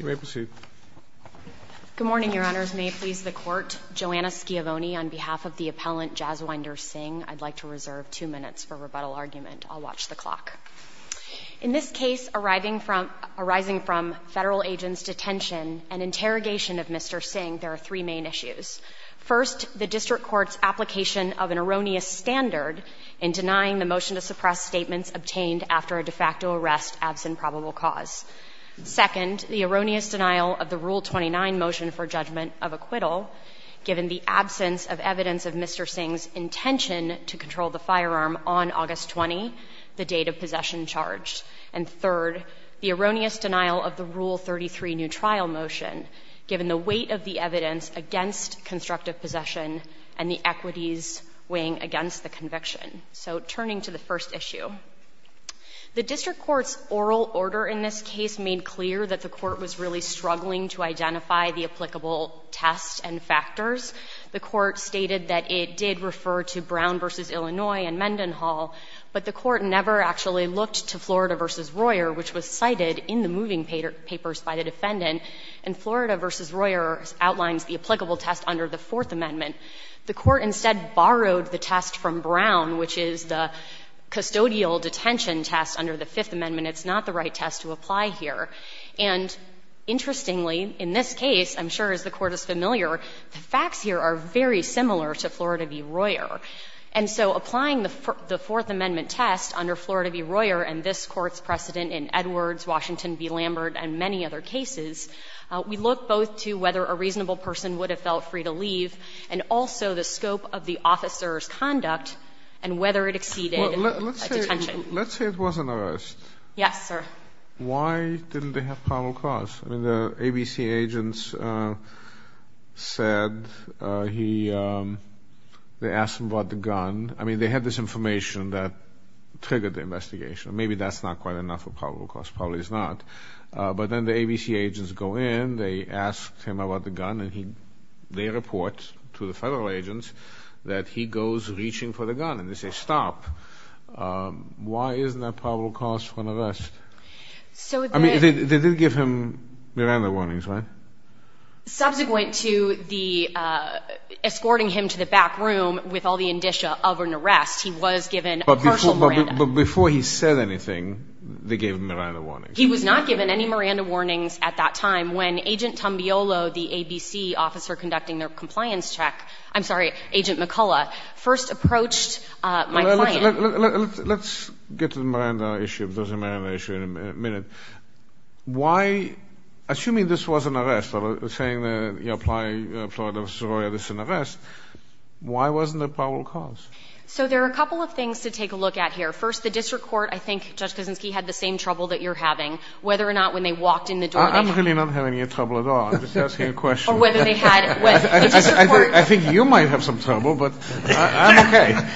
Good morning, Your Honors. May it please the Court, Joanna Schiavone on behalf of the appellant Jaswinder Singh, I'd like to reserve two minutes for rebuttal argument. I'll watch the clock. In this case, arising from Federal agents' detention and interrogation of Mr. Singh, there are three main issues. First, the district court's application of an erroneous standard in denying the motion to suppress statements obtained after a de facto arrest absent probable cause. Second, the erroneous denial of the Rule 29 motion for judgment of acquittal given the absence of evidence of Mr. Singh's intention to control the firearm on August 20, the date of possession charged. And third, the erroneous denial of the Rule 33 new trial motion given the weight of the evidence against constructive possession and the equities weighing against the conviction. So turning to the first issue. The district court's oral order in this case made clear that the court was really struggling to identify the applicable test and factors. The court stated that it did refer to Brown v. Illinois and Mendenhall, but the court never actually looked to Florida v. Royer, which was cited in the moving papers by the defendant. And Florida v. Royer outlines the applicable test under the Fourth Amendment. The court instead borrowed the test from Brown, which is the custodial detention test under the Fifth Amendment. It's not the right test to apply here. And interestingly, in this case, I'm sure as the Court is familiar, the facts here are very similar to Florida v. Royer. And so applying the Fourth Amendment test under Florida v. Royer and this Court's precedent in Edwards, Washington v. Lambert, and many other cases, we look both to whether a reasonable person would have felt free to leave and also the scope of the officer's conduct and whether it exceeded a detention. Let's say it was an arrest. Yes, sir. Why didn't they have probable cause? I mean, the ABC agents said he they asked him about the gun. I mean, they had this information that triggered the investigation. Maybe that's not quite enough of probable cause. Probably it's not. But then the ABC agents go in, they asked him about the gun, and they report to the federal agents that he goes reaching for the gun, and they say, stop. Why isn't that probable cause for an arrest? I mean, they did give him Miranda warnings, right? Subsequent to the escorting him to the back room with all the indicia of an arrest, he was given partial Miranda. But before he said anything, they gave him Miranda warnings. He was not given any Miranda warnings at that time when Agent Tambiolo, the ABC officer conducting their compliance check, I'm sorry, Agent McCullough, first approached my client. Let's get to the Miranda issue, if there's a Miranda issue, in a minute. Why, assuming this was an arrest, saying that you're applying a plea of sorority that it's an arrest, why wasn't there probable cause? So there are a couple of things to take a look at here. First, the district court, I think, Judge Kuczynski, had the same trouble that you're having, whether or not when they walked in the door they had. I'm really not having any trouble at all. I'm just asking a question. Or whether they had the district court. I think you might have some trouble, but I'm okay.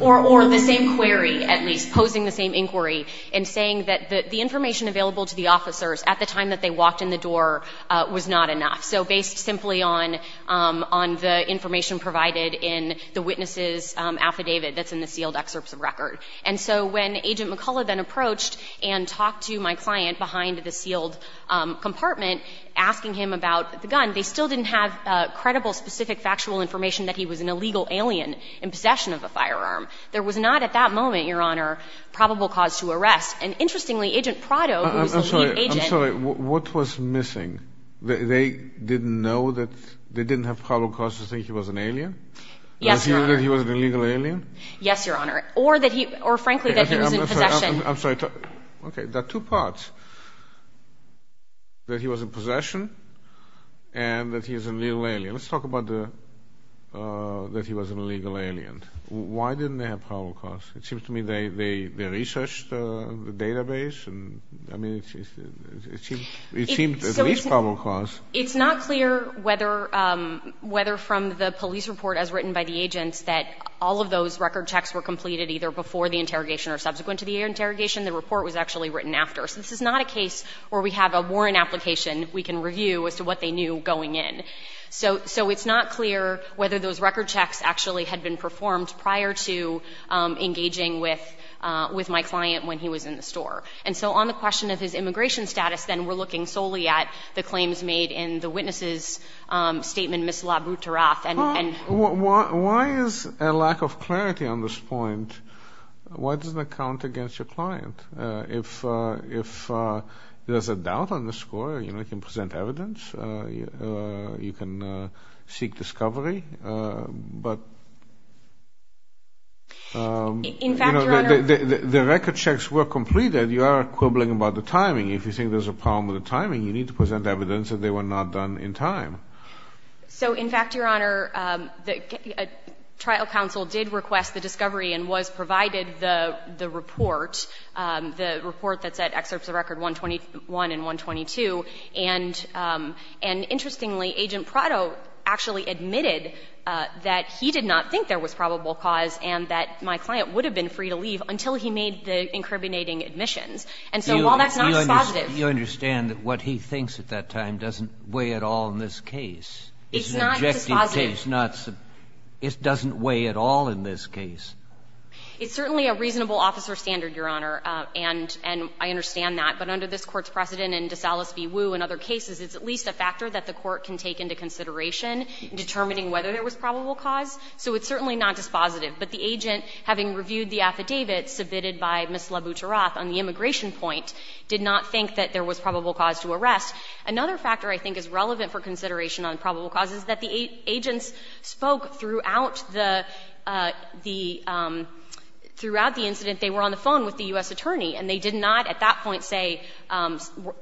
Or the same query, at least, posing the same inquiry, and saying that the information available to the officers at the time that they walked in the door was not enough. So based simply on the information provided in the witness' affidavit that's in the sealed excerpts of record. And so when Agent McCullough then approached and talked to my client behind the sealed compartment, asking him about the gun, they still didn't have credible, specific, factual information that he was an illegal alien in possession of a firearm. There was not, at that moment, Your Honor, probable cause to arrest. And interestingly, Agent Prado, who was the chief agent. I'm sorry, what was missing? They didn't know that, they didn't have probable cause to think he was an alien? Yes, Your Honor. Or that he was an illegal alien? Yes, Your Honor. Or that he, or frankly, that he was in possession. I'm sorry, okay, there are two parts. That he was in possession, and that he is an illegal alien. Let's talk about the, that he was an illegal alien. Why didn't they have probable cause? It seems to me they, they, they researched the database and, I mean, it seems, it seems there's at least probable cause. It's not clear whether, whether from the police report as written by the agents that all of those record checks were completed either before the interrogation or subsequent to the interrogation, the report was actually written after. So this is not a case where we have a Warren application we can review as to what they knew going in. So, so it's not clear whether those record checks actually had been performed prior to engaging with, with my client when he was in the store. And so on the question of his immigration status, then, we're looking solely at the If there is a lack of clarity on this point, why doesn't that count against your client? If, if there's a doubt on the score, you know, you can present evidence. You can seek discovery. But. In fact, Your Honor. The record checks were completed. You are quibbling about the timing. If you think there's a problem with the timing, you need to present evidence that they were not done in time. So in fact, Your Honor, the trial counsel did request the discovery and was provided the, the report, the report that said excerpts of record 121 and 122, and, and interestingly, Agent Prado actually admitted that he did not think there was probable cause and that my client would have been free to leave until he made the incriminating admissions. And so while that's not just positive. You understand that what he thinks at that time doesn't weigh at all in this case. It's not just positive. It's not. It doesn't weigh at all in this case. It's certainly a reasonable officer standard, Your Honor, and, and I understand that. But under this Court's precedent in DeSalas v. Woo and other cases, it's at least a factor that the Court can take into consideration in determining whether there was probable cause. So it's certainly not just positive. But the agent, having reviewed the affidavit submitted by Ms. Labutiroth on the immigration point, did not think that there was probable cause to arrest. Another factor I think is relevant for consideration on probable cause is that the agents spoke throughout the, the, throughout the incident, they were on the phone with the U.S. attorney, and they did not at that point say,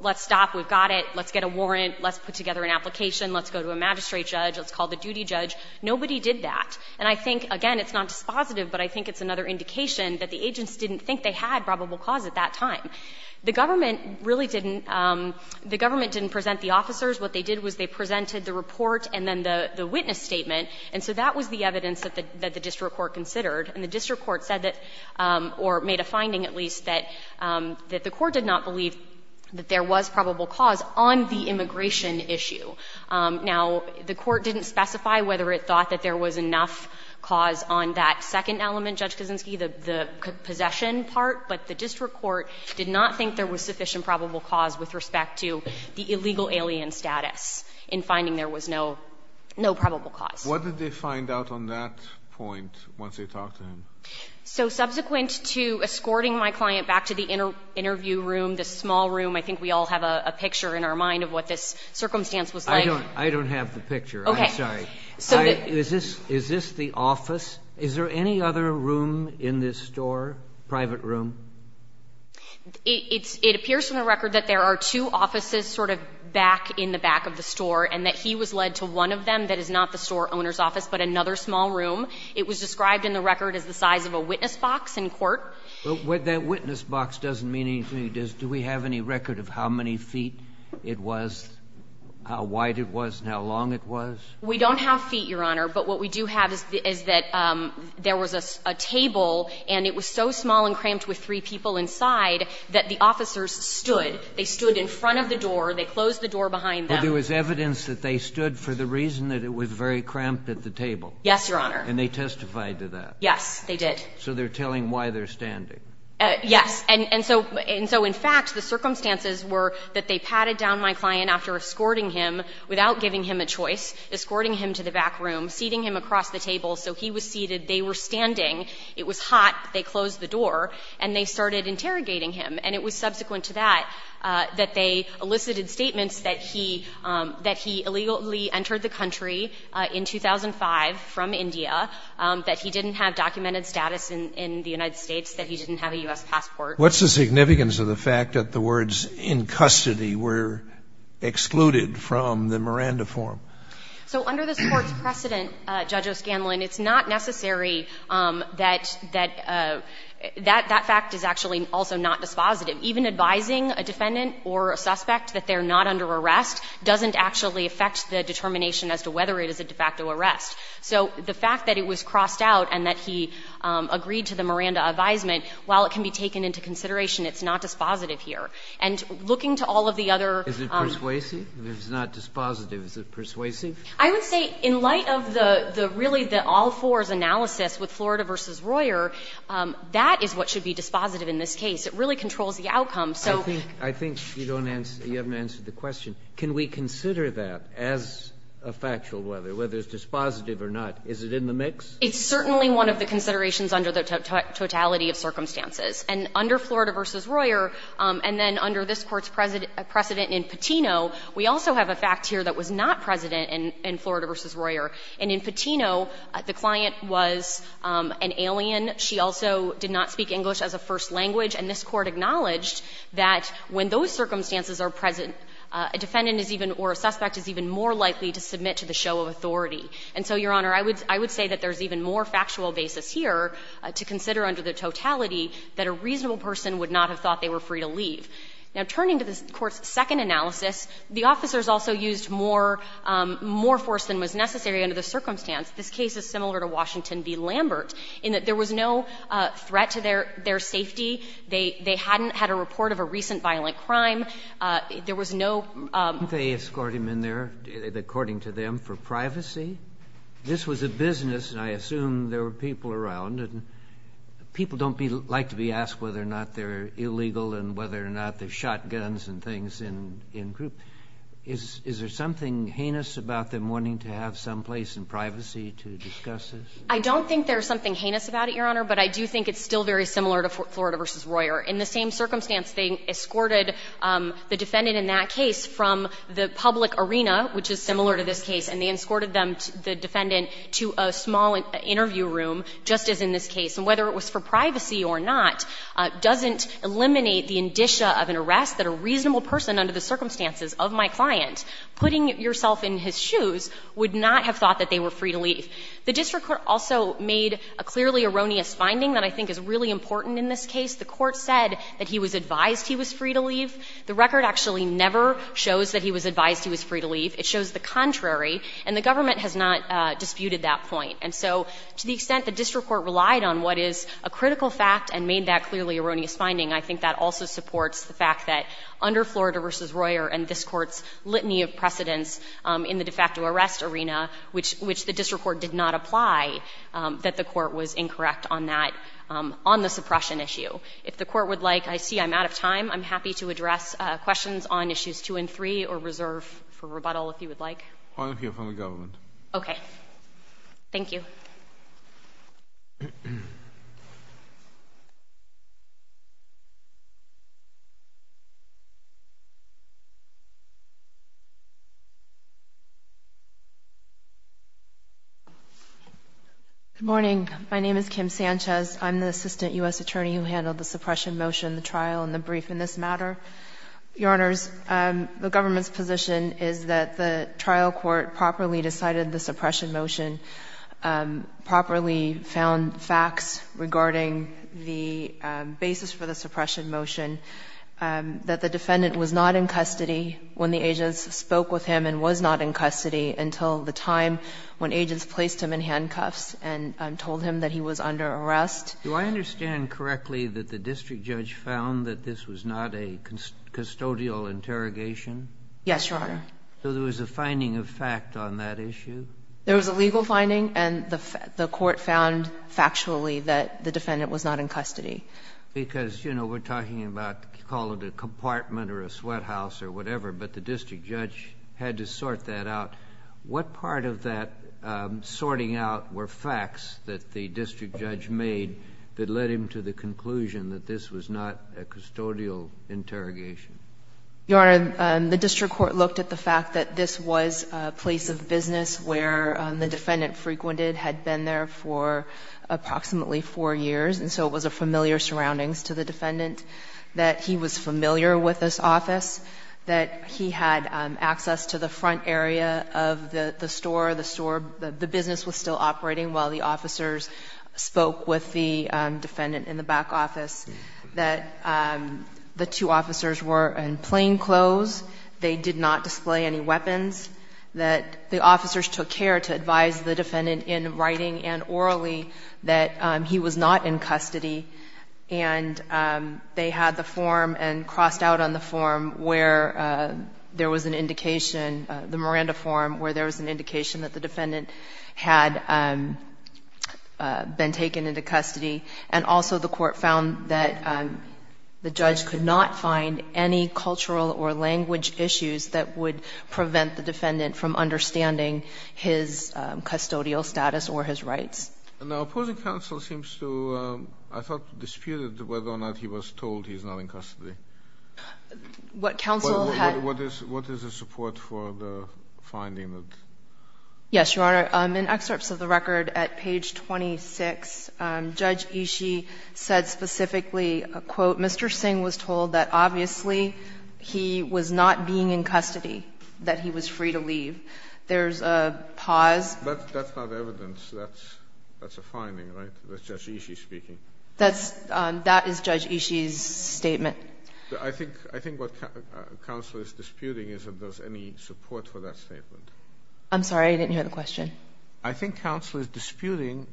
let's stop, we've got it, let's get a warrant, let's put together an application, let's go to a magistrate judge, let's call the duty judge. Nobody did that. And I think, again, it's not just positive, but I think it's another indication that the agents didn't think they had probable cause at that time. The government really didn't, the government didn't present the officers. What they did was they presented the report and then the witness statement. And so that was the evidence that the district court considered. And the district court said that, or made a finding at least, that the court did not believe that there was probable cause on the immigration issue. Now, the court didn't specify whether it thought that there was enough cause on that on the possession part, but the district court did not think there was sufficient probable cause with respect to the illegal alien status in finding there was no, no probable cause. Kennedy. What did they find out on that point once they talked to him? So subsequent to escorting my client back to the interview room, this small room, I think we all have a picture in our mind of what this circumstance was like. I don't have the picture. I'm sorry. Is this, is this the office? Is there any other room in this store, private room? It's, it appears from the record that there are two offices sort of back in the back of the store, and that he was led to one of them that is not the store owner's office, but another small room. It was described in the record as the size of a witness box in court. But that witness box doesn't mean anything. Does, do we have any record of how many feet it was, how wide it was, and how long it was? We don't have feet, Your Honor, but what we do have is, is that there was a, a table, and it was so small and cramped with three people inside that the officers stood. They stood in front of the door. They closed the door behind them. But there was evidence that they stood for the reason that it was very cramped at the table. Yes, Your Honor. And they testified to that. Yes, they did. So they're telling why they're standing. Yes. And, and so, and so in fact, the circumstances were that they padded down my client after escorting him, without giving him a choice, escorting him to the back room, seating him across the table, so he was seated, they were standing, it was hot, they closed the door, and they started interrogating him. And it was subsequent to that, that they elicited statements that he, that he illegally entered the country in 2005 from India, that he didn't have documented status in, in the United States, that he didn't have a U.S. passport. What's the significance of the fact that the words, in custody, were excluded from the Miranda form? So under this Court's precedent, Judge O'Scanlan, it's not necessary that, that, that fact is actually also not dispositive. Even advising a defendant or a suspect that they're not under arrest doesn't actually affect the determination as to whether it is a de facto arrest. So the fact that it was crossed out and that he agreed to the Miranda advisement while it can be taken into consideration, it's not dispositive here. And looking to all of the other. Breyer, is it persuasive? If it's not dispositive, is it persuasive? I would say in light of the, the really the all-fours analysis with Florida v. Royer, that is what should be dispositive in this case. It really controls the outcome, so. I think, I think you don't answer, you haven't answered the question. Can we consider that as a factual whether, whether it's dispositive or not? Is it in the mix? It's certainly one of the considerations under the totality of circumstances. And under Florida v. Royer, and then under this Court's precedent in Patino, we also have a fact here that was not precedent in Florida v. Royer. And in Patino, the client was an alien. She also did not speak English as a first language. And this Court acknowledged that when those circumstances are present, a defendant is even, or a suspect is even more likely to submit to the show of authority. And so, Your Honor, I would, I would say that there's even more factual basis here to consider under the totality that a reasonable person would not have thought they were free to leave. Now, turning to this Court's second analysis, the officers also used more, more force than was necessary under the circumstance. This case is similar to Washington v. Lambert in that there was no threat to their, their safety. They, they hadn't had a report of a recent violent crime. There was no. They escorted him in there, according to them, for privacy. This was a business, and I assume there were people around, and people don't be, like to be asked whether or not they're illegal and whether or not they've shot guns and things in, in groups. Is, is there something heinous about them wanting to have some place in privacy to discuss this? I don't think there's something heinous about it, Your Honor, but I do think it's still very similar to Florida v. Royer. In the same circumstance, they escorted the defendant in that case from the public arena, which is similar to this case, and they escorted them, the defendant, to a small interview room, just as in this case. And whether it was for privacy or not doesn't eliminate the indicia of an arrest that a reasonable person under the circumstances of my client putting yourself in his shoes would not have thought that they were free to leave. The district court also made a clearly erroneous finding that I think is really important in this case. The court said that he was advised he was free to leave. The record actually never shows that he was advised he was free to leave. It shows the contrary, and the government has not disputed that point. And so to the extent the district court relied on what is a critical fact and made that clearly erroneous finding, I think that also supports the fact that under Florida v. Royer and this Court's litany of precedents in the de facto arrest arena, which the district court did not apply, that the court was incorrect on that, on the suppression issue. If the court would like, I see I'm out of time. I'm happy to address questions on issues two and three or reserve for rebuttal if you would like. I'll hear from the government. Okay. Thank you. Good morning. My name is Kim Sanchez. I'm the assistant U.S. attorney who handled the suppression motion, the trial, and the brief in this matter. Your Honors, the government's position is that the trial court properly decided the suppression motion, properly found facts regarding the basis for the suppression motion, that the defendant was not in custody when the agents spoke with him and was not in custody until the time when agents placed him in handcuffs and told him that he was under arrest. Do I understand correctly that the district judge found that this was not a custodial interrogation? Yes, Your Honor. So there was a finding of fact on that issue? There was a legal finding, and the court found factually that the defendant was not in custody. Because, you know, we're talking about, call it a compartment or a sweat house or whatever, but the district judge had to sort that out. What part of that sorting out were facts that the district judge made that led him to the conclusion that this was not a custodial interrogation? Your Honor, the district court looked at the fact that this was a place of business where the defendant frequented, had been there for approximately four years, and so it was a familiar surroundings to the defendant, that he was familiar with this of the store, the store, the business was still operating while the officers spoke with the defendant in the back office, that the two officers were in plain clothes, they did not display any weapons, that the officers took care to advise the defendant in writing and orally that he was not in custody, and they had the form and crossed out on the form where there was an indication, the Miranda form, where there was an indication that the defendant had been taken into custody. And also the court found that the judge could not find any cultural or language issues that would prevent the defendant from understanding his custodial status or his rights. Now, opposing counsel seems to, I thought, disputed whether or not he was told he's What counsel had What is the support for the finding that Yes, Your Honor. In excerpts of the record at page 26, Judge Ishii said specifically, quote, Mr. Singh was told that obviously he was not being in custody, that he was free to leave. There's a pause But that's not evidence. That's a finding, right? That's, that is Judge Ishii's statement. I think, I think what counsel is disputing is if there's any support for that statement. I'm sorry, I didn't hear the question. I think counsel is disputing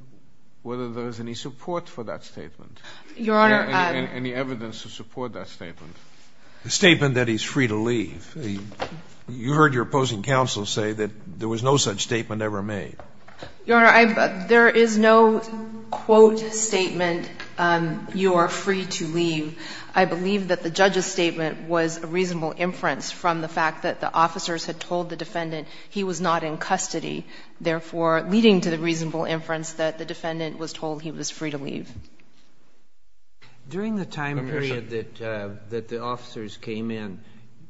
whether there is any support for that statement. Your Honor Any evidence to support that statement. The statement that he's free to leave. You heard your opposing counsel say that there was no such statement ever made. Your Honor, there is no quote statement, you are free to leave. I believe that the judge's statement was a reasonable inference from the fact that the officers had told the defendant he was not in custody. Therefore, leading to the reasonable inference that the defendant was told he was free to leave. During the time period that the officers came in,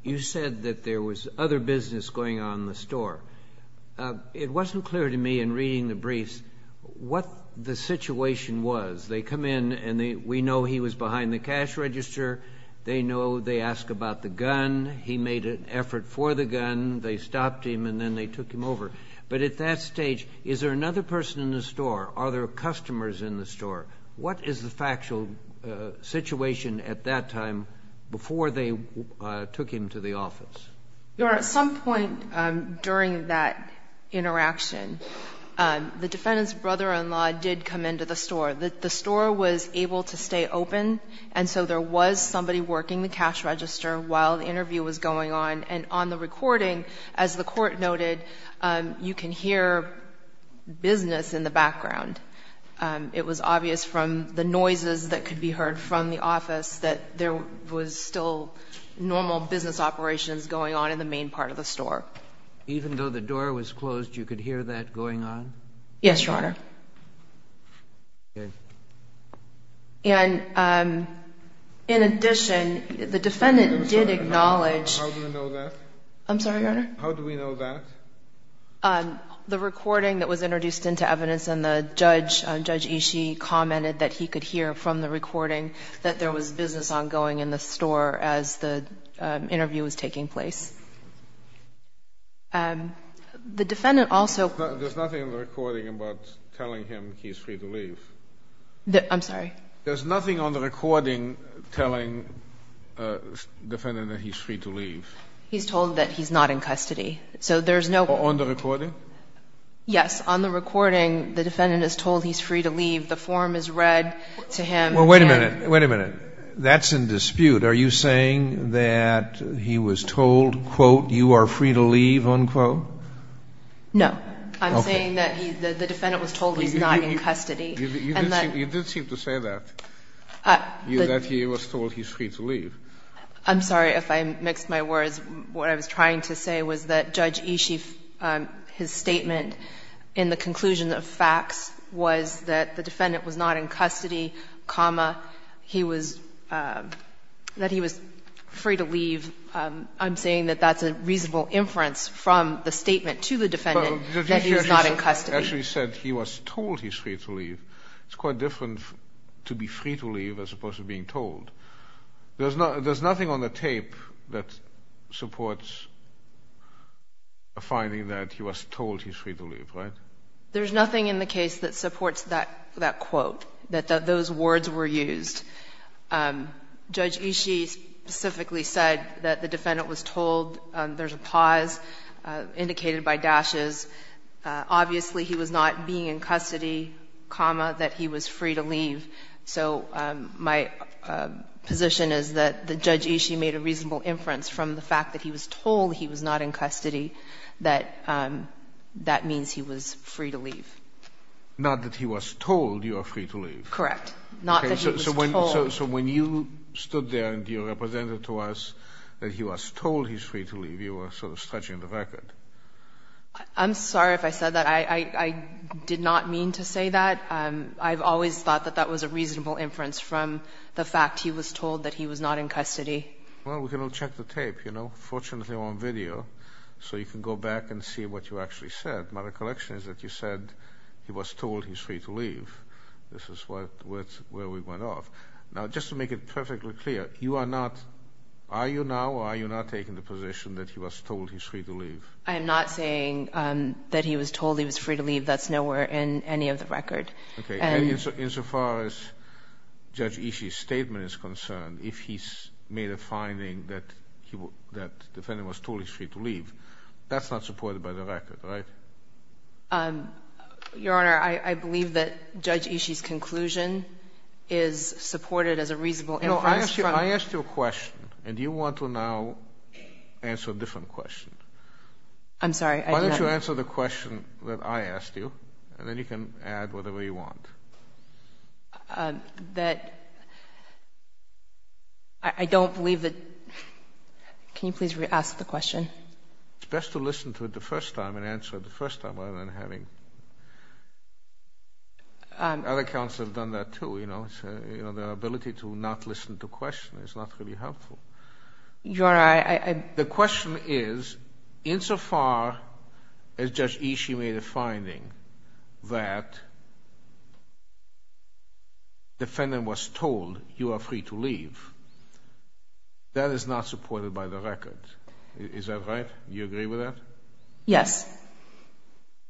you said that there was other business going on in the store. It wasn't clear to me in reading the briefs what the situation was. They come in and we know he was behind the cash register. They know they ask about the gun. He made an effort for the gun. They stopped him and then they took him over. But at that stage, is there another person in the store? Are there customers in the store? What is the factual situation at that time before they took him to the office? Your Honor, at some point during that interaction, the defendant's brother-in-law did come into the store. The store was able to stay open and so there was somebody working the cash register while the interview was going on. And on the recording, as the Court noted, you can hear business in the background. It was obvious from the noises that could be heard from the office that there was still normal business operations going on in the main part of the store. Even though the door was closed, you could hear that going on? Yes, Your Honor. And in addition, the defendant did acknowledge... I'm sorry, Your Honor. How do we know that? I'm sorry, Your Honor? How do we know that? The recording that was introduced into evidence and Judge Ishii commented that he could hear from the recording that there was business ongoing in the store as the interview was taking place. The defendant also... There's nothing in the recording about telling him he's free to leave? I'm sorry? There's nothing on the recording telling the defendant that he's free to leave? He's told that he's not in custody. So there's no... On the recording? Yes. On the recording, the defendant is told he's free to leave. The form is read to him... Well, wait a minute. Wait a minute. That's in dispute. Are you saying that he was told, quote, you are free to leave, unquote? No. Okay. I'm saying that the defendant was told he's not in custody. You did seem to say that, that he was told he's free to leave. I'm sorry if I mixed my words. What I was trying to say was that Judge Ishii, his statement in the conclusion of facts was that the defendant was not in custody, comma, that he was free to leave. And I'm saying that that's a reasonable inference from the statement to the defendant that he's not in custody. But Judge Ishii actually said he was told he's free to leave. It's quite different to be free to leave as opposed to being told. There's nothing on the tape that supports a finding that he was told he's free to leave, right? There's nothing in the case that supports that quote, that those words were used. Judge Ishii specifically said that the defendant was told. There's a pause indicated by dashes. Obviously, he was not being in custody, comma, that he was free to leave. So my position is that Judge Ishii made a reasonable inference from the fact that he was told he was not in custody that that means he was free to leave. Not that he was told you are free to leave. Correct. Not that he was told. So when you stood there and you represented to us that he was told he's free to leave, you were sort of stretching the record. I'm sorry if I said that. I did not mean to say that. I've always thought that that was a reasonable inference from the fact he was told that he was not in custody. Well, we can all check the tape, you know. Fortunately, we're on video, so you can go back and see what you actually said. My recollection is that you said he was told he's free to leave. This is where we went off. Now, just to make it perfectly clear, you are not, are you now or are you not taking the position that he was told he's free to leave? I'm not saying that he was told he was free to leave. That's nowhere in any of the record. Okay. And insofar as Judge Ishii's statement is concerned, if he's made a finding that the defendant was told he's free to leave, that's not supported by the record, right? Your Honor, I believe that Judge Ishii's conclusion is supported as a reasonable inference from No, I asked you a question, and you want to now answer a different question. I'm sorry. Why don't you answer the question that I asked you, and then you can add whatever you want. That I don't believe that. Can you please ask the question? It's best to listen to it the first time and answer it the first time rather than having Other counsel have done that, too, you know. Their ability to not listen to questions is not really helpful. Your Honor, I The question is, insofar as Judge Ishii made a finding that the defendant was told you are free to leave, that is not supported by the record. Is that right? Do you agree with that? Yes.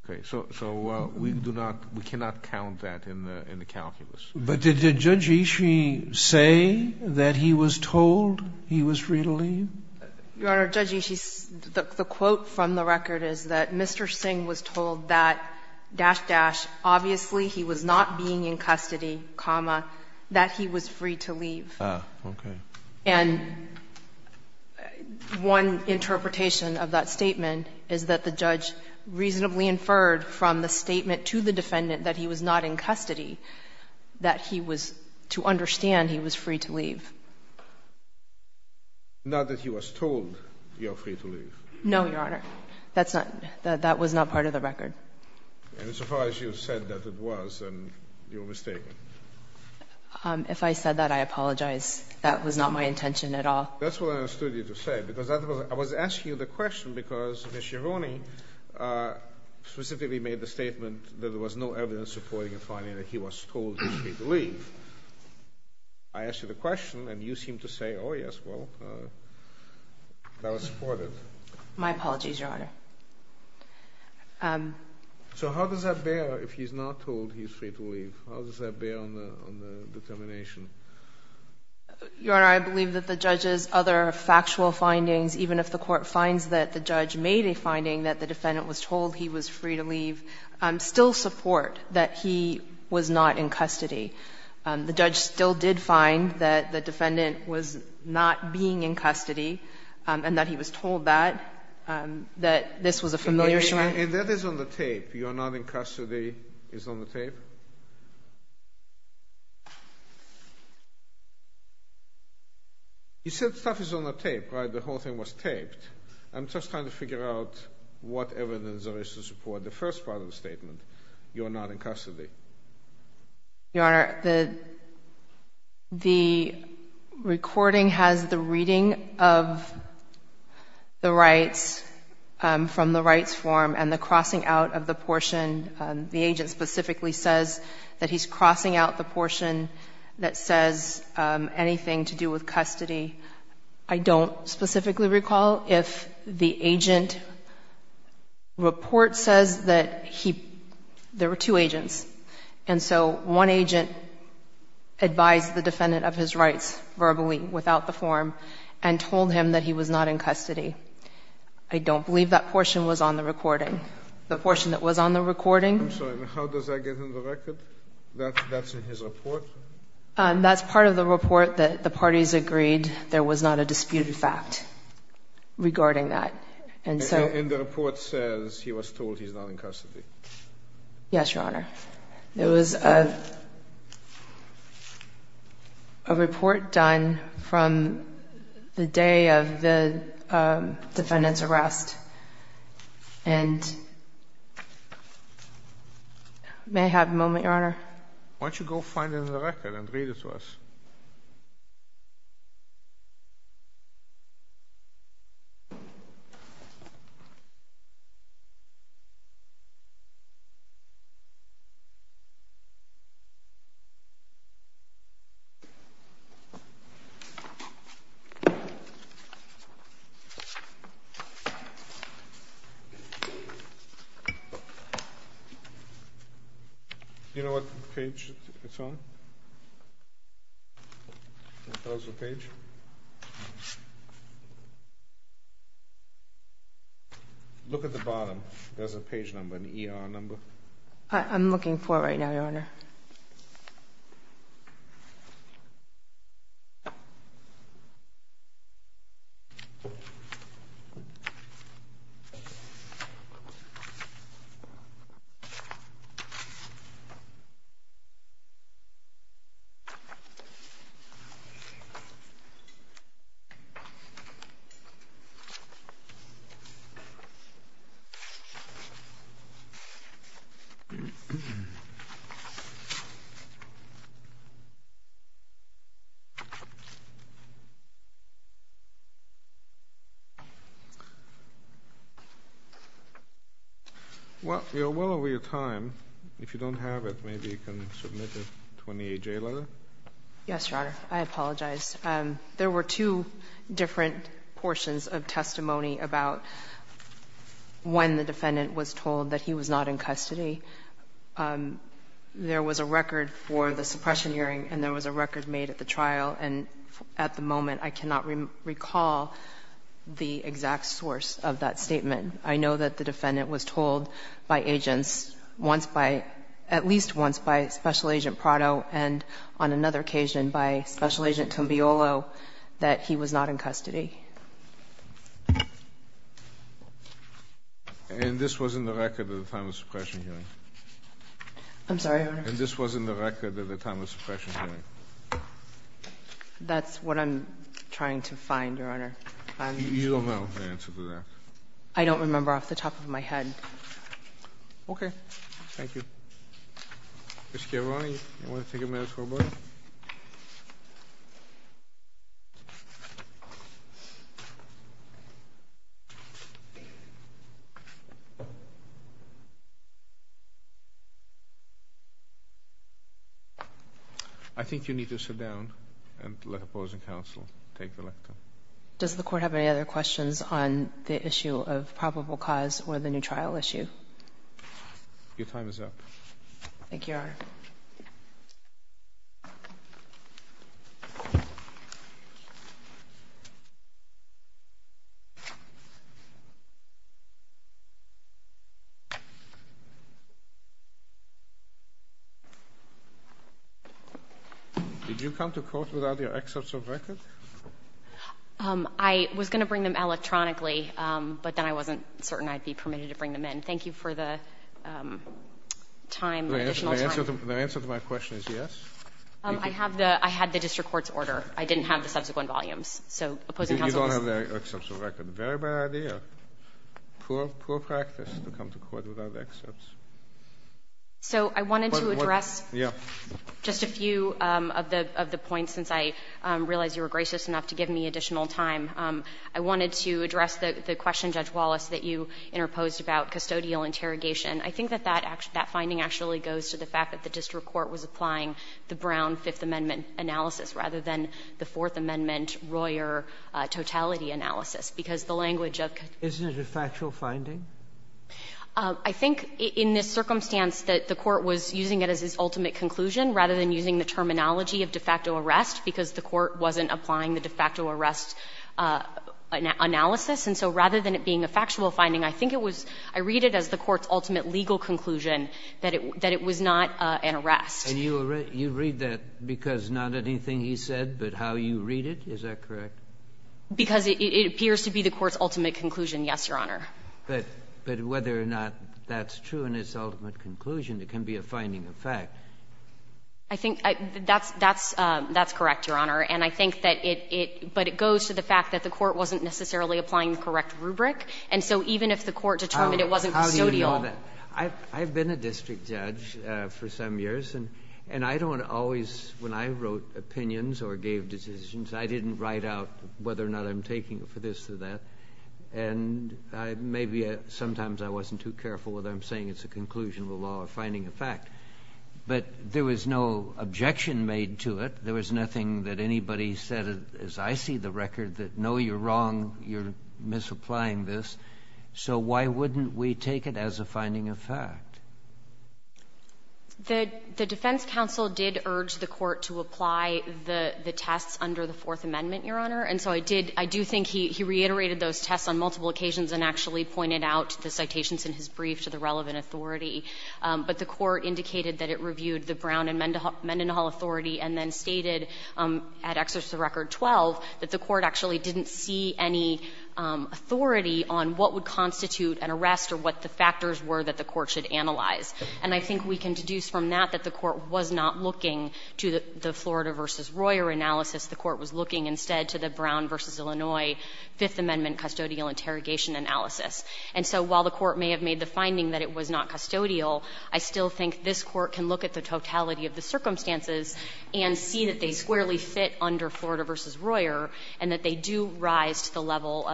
Okay. So we do not, we cannot count that in the calculus. But did Judge Ishii say that he was told he was free to leave? Your Honor, Judge Ishii, the quote from the record is that Mr. Singh was told that dash, dash, obviously he was not being in custody, comma, that he was free to leave. Ah, okay. And one interpretation of that statement is that the judge reasonably inferred from the statement to the defendant that he was not in custody that he was, to understand, he was free to leave. Not that he was told you are free to leave. No, Your Honor. That's not, that was not part of the record. Insofar as you said that it was, then you are mistaken. If I said that, I apologize. That was not my intention at all. That's what I understood you to say because that was, I was asking you the question because Ms. Yaroni specifically made the statement that there was no evidence supporting and finding that he was told he was free to leave. I asked you the question and you seem to say, oh yes, well, that was supported. My apologies, Your Honor. So how does that bear if he's not told he's free to leave? How does that bear on the determination? Your Honor, I believe that the judge's other factual findings, even if the court finds that the judge made a finding that the defendant was told he was free to leave, still support that he was not in custody. The judge still did find that the defendant was not being in custody and that he was told that, that this was a familiar shrine. And that is on the tape. You're not in custody is on the tape? You said stuff is on the tape, right? The whole thing was taped. I'm just trying to figure out what evidence there is to support the first part of the statement, you're not in custody. Your Honor, the recording has the reading of the rights from the rights form and the crossing out of the portion. The agent specifically says that he's crossing out the portion that says anything to do with custody. I don't specifically recall if the agent report says that he, there were two agents. And so one agent advised the defendant of his rights verbally without the form and told him that he was not in custody. I don't believe that portion was on the recording. The portion that was on the recording. I'm sorry, how does that get on the record? That's in his report? That's part of the report that the parties agreed there was not a disputed fact regarding that. And the report says he was told he's not in custody. Yes, Your Honor. There was a report done from the day of the defendant's arrest. And may I have a moment, Your Honor? Why don't you go find it in the record and read it to us? Do you know what page it's on? Composal page? Look at the bottom. There's a page number, an ER number. I'm looking for it right now, Your Honor. Well, we are well over your time. If you don't have it, maybe you can submit a 28J letter. Yes, Your Honor. I apologize. There were two different portions of testimony about when the defendant was told that he was not in custody. There was a record for the suppression hearing and there was a record made at the trial. And at the moment I cannot recall the exact source of that statement. I know that the defendant was told by agents once by at least once by Special Agent Prado and on another occasion by Special Agent Combiolo that he was not in custody. And this was in the record at the time of suppression hearing? I'm sorry, Your Honor? And this was in the record at the time of suppression hearing? That's what I'm trying to find, Your Honor. You don't know the answer to that? I don't remember off the top of my head. Okay. Thank you. Mr. Gavrani, you want to take a minute or both? I think you need to sit down and let opposing counsel take the lecture. Does the Court have any other questions on the issue of probable cause or the new trial issue? Your time is up. Thank you, Your Honor. Did you come to court without your excerpts of record? I was going to bring them electronically, but then I wasn't certain I'd be permitted to bring them in. Thank you for the additional time. The answer to my question is yes. I had the district court's order. I didn't have the subsequent volumes. You don't have the excerpts of record. Very bad idea. Poor practice to come to court without the excerpts. So I wanted to address just a few of the points, since I realize you were gracious enough to give me additional time. I wanted to address the question, Judge Wallace, that you interposed about custodial interrogation. I think that that finding actually goes to the fact that the district court was applying the Brown Fifth Amendment analysis rather than the Fourth Amendment, Royer totality analysis, because the language of custodial interrogation is different. Isn't it a factual finding? I think in this circumstance that the court was using it as its ultimate conclusion rather than using the terminology of de facto arrest, because the court wasn't applying the de facto arrest analysis. And so rather than it being a factual finding, I think it was, I read it as the court's ultimate legal conclusion that it was not an arrest. And you read that because not anything he said, but how you read it? Is that correct? Because it appears to be the court's ultimate conclusion, yes, Your Honor. But whether or not that's true in its ultimate conclusion, it can be a finding of fact. I think that's correct, Your Honor. And I think that it goes to the fact that the court wasn't necessarily applying the correct rubric. And so even if the court determined it wasn't custodial. How do you know that? I've been a district judge for some years, and I don't always, when I wrote opinions or gave decisions, I didn't write out whether or not I'm taking it for this or that. And maybe sometimes I wasn't too careful whether I'm saying it's a conclusion of a law or finding of fact. But there was no objection made to it. There was nothing that anybody said, as I see the record, that no, you're wrong, you're misapplying this. So why wouldn't we take it as a finding of fact? The defense counsel did urge the court to apply the tests under the Fourth Amendment, Your Honor. And so I did, I do think he reiterated those tests on multiple occasions and actually pointed out the citations in his brief to the relevant authority. But the court indicated that it reviewed the Brown and Mendenhall authority and then stated at Exercise of the Record 12 that the court actually didn't see any authority on what would constitute an arrest or what the factors were that the court should analyze. And I think we can deduce from that that the court was not looking to the Florida v. Royer analysis. The court was looking instead to the Brown v. Illinois Fifth Amendment custodial interrogation analysis. And so while the court may have made the finding that it was not custodial, I still think this Court can look at the totality of the circumstances and see that they squarely fit under Florida v. Royer and that they do rise to the level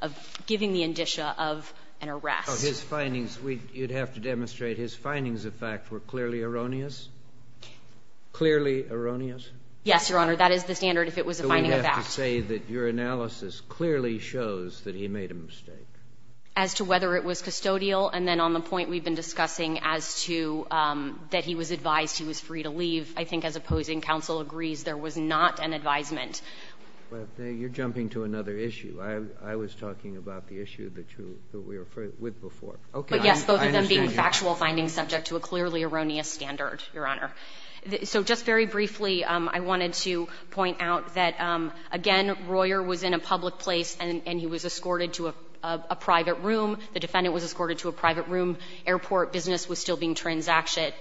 of giving the indicia of an arrest. So his findings, you'd have to demonstrate his findings of fact were clearly erroneous? Clearly erroneous? Yes, Your Honor. That is the standard if it was a finding of fact. But you have to say that your analysis clearly shows that he made a mistake. As to whether it was custodial, and then on the point we've been discussing as to that he was advised he was free to leave, I think as opposing counsel agrees, there was not an advisement. But you're jumping to another issue. I was talking about the issue that you were with before. But yes, both of them being factual findings subject to a clearly erroneous standard, Your Honor. So just very briefly, I wanted to point out that, again, Royer was in a public place and he was escorted to a private room. The defendant was escorted to a private room. Airport business was still being transacted.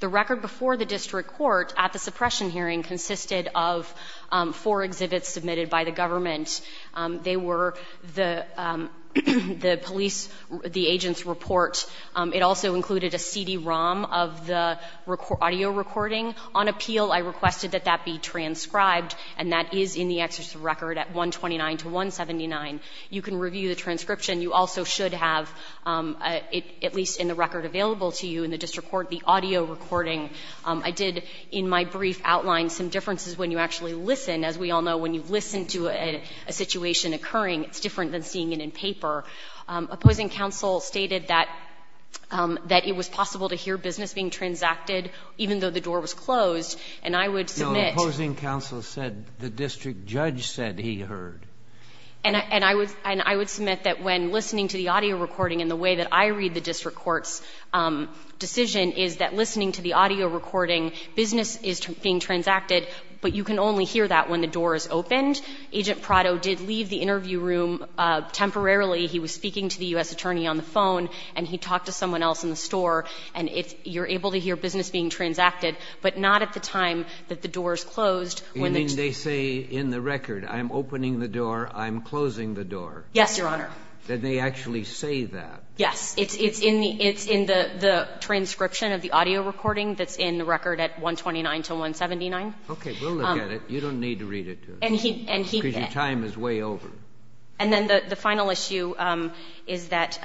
The record before the district court at the suppression hearing consisted of four exhibits submitted by the government. They were the police, the agent's report. It also included a CD-ROM of the audio recording. On appeal, I requested that that be transcribed, and that is in the executive record at 129-179. You can review the transcription. You also should have, at least in the record available to you in the district court, the audio recording. I did in my brief outline some differences when you actually listen. As we all know, when you listen to a situation occurring, it's different than seeing it in paper. Opposing counsel stated that it was possible to hear business being transacted even though the door was closed. And I would submit. The opposing counsel said the district judge said he heard. And I would submit that when listening to the audio recording and the way that I read the district court's decision is that listening to the audio recording, business is being transacted, but you can only hear that when the door is opened. Agent Prado did leave the interview room temporarily. He was speaking to the U.S. Attorney on the phone, and he talked to someone else in the store. And it's you're able to hear business being transacted, but not at the time that the door is closed. You mean they say in the record, I'm opening the door, I'm closing the door? Yes, Your Honor. Did they actually say that? Yes. It's in the transcription of the audio recording that's in the record at 129-179. Okay. We'll look at it. You don't need to read it to us. Because your time is way over. And then the final issue is that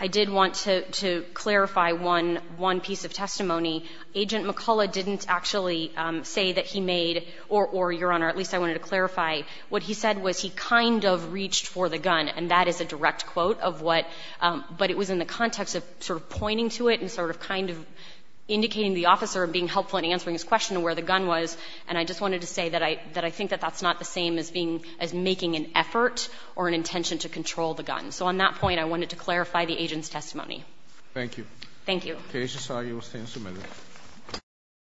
I did want to clarify one piece of testimony. Agent McCullough didn't actually say that he made, or, Your Honor, at least I wanted to clarify, what he said was he kind of reached for the gun, and that is a direct quote of what, but it was in the context of sort of pointing to it and sort of kind of indicating the officer being helpful in answering his question of where the gun was. And I just wanted to say that I think that that's not the same as being, as making an effort or an intention to control the gun. So on that point, I wanted to clarify the agent's testimony. Thank you. Thank you. You will stand submitted.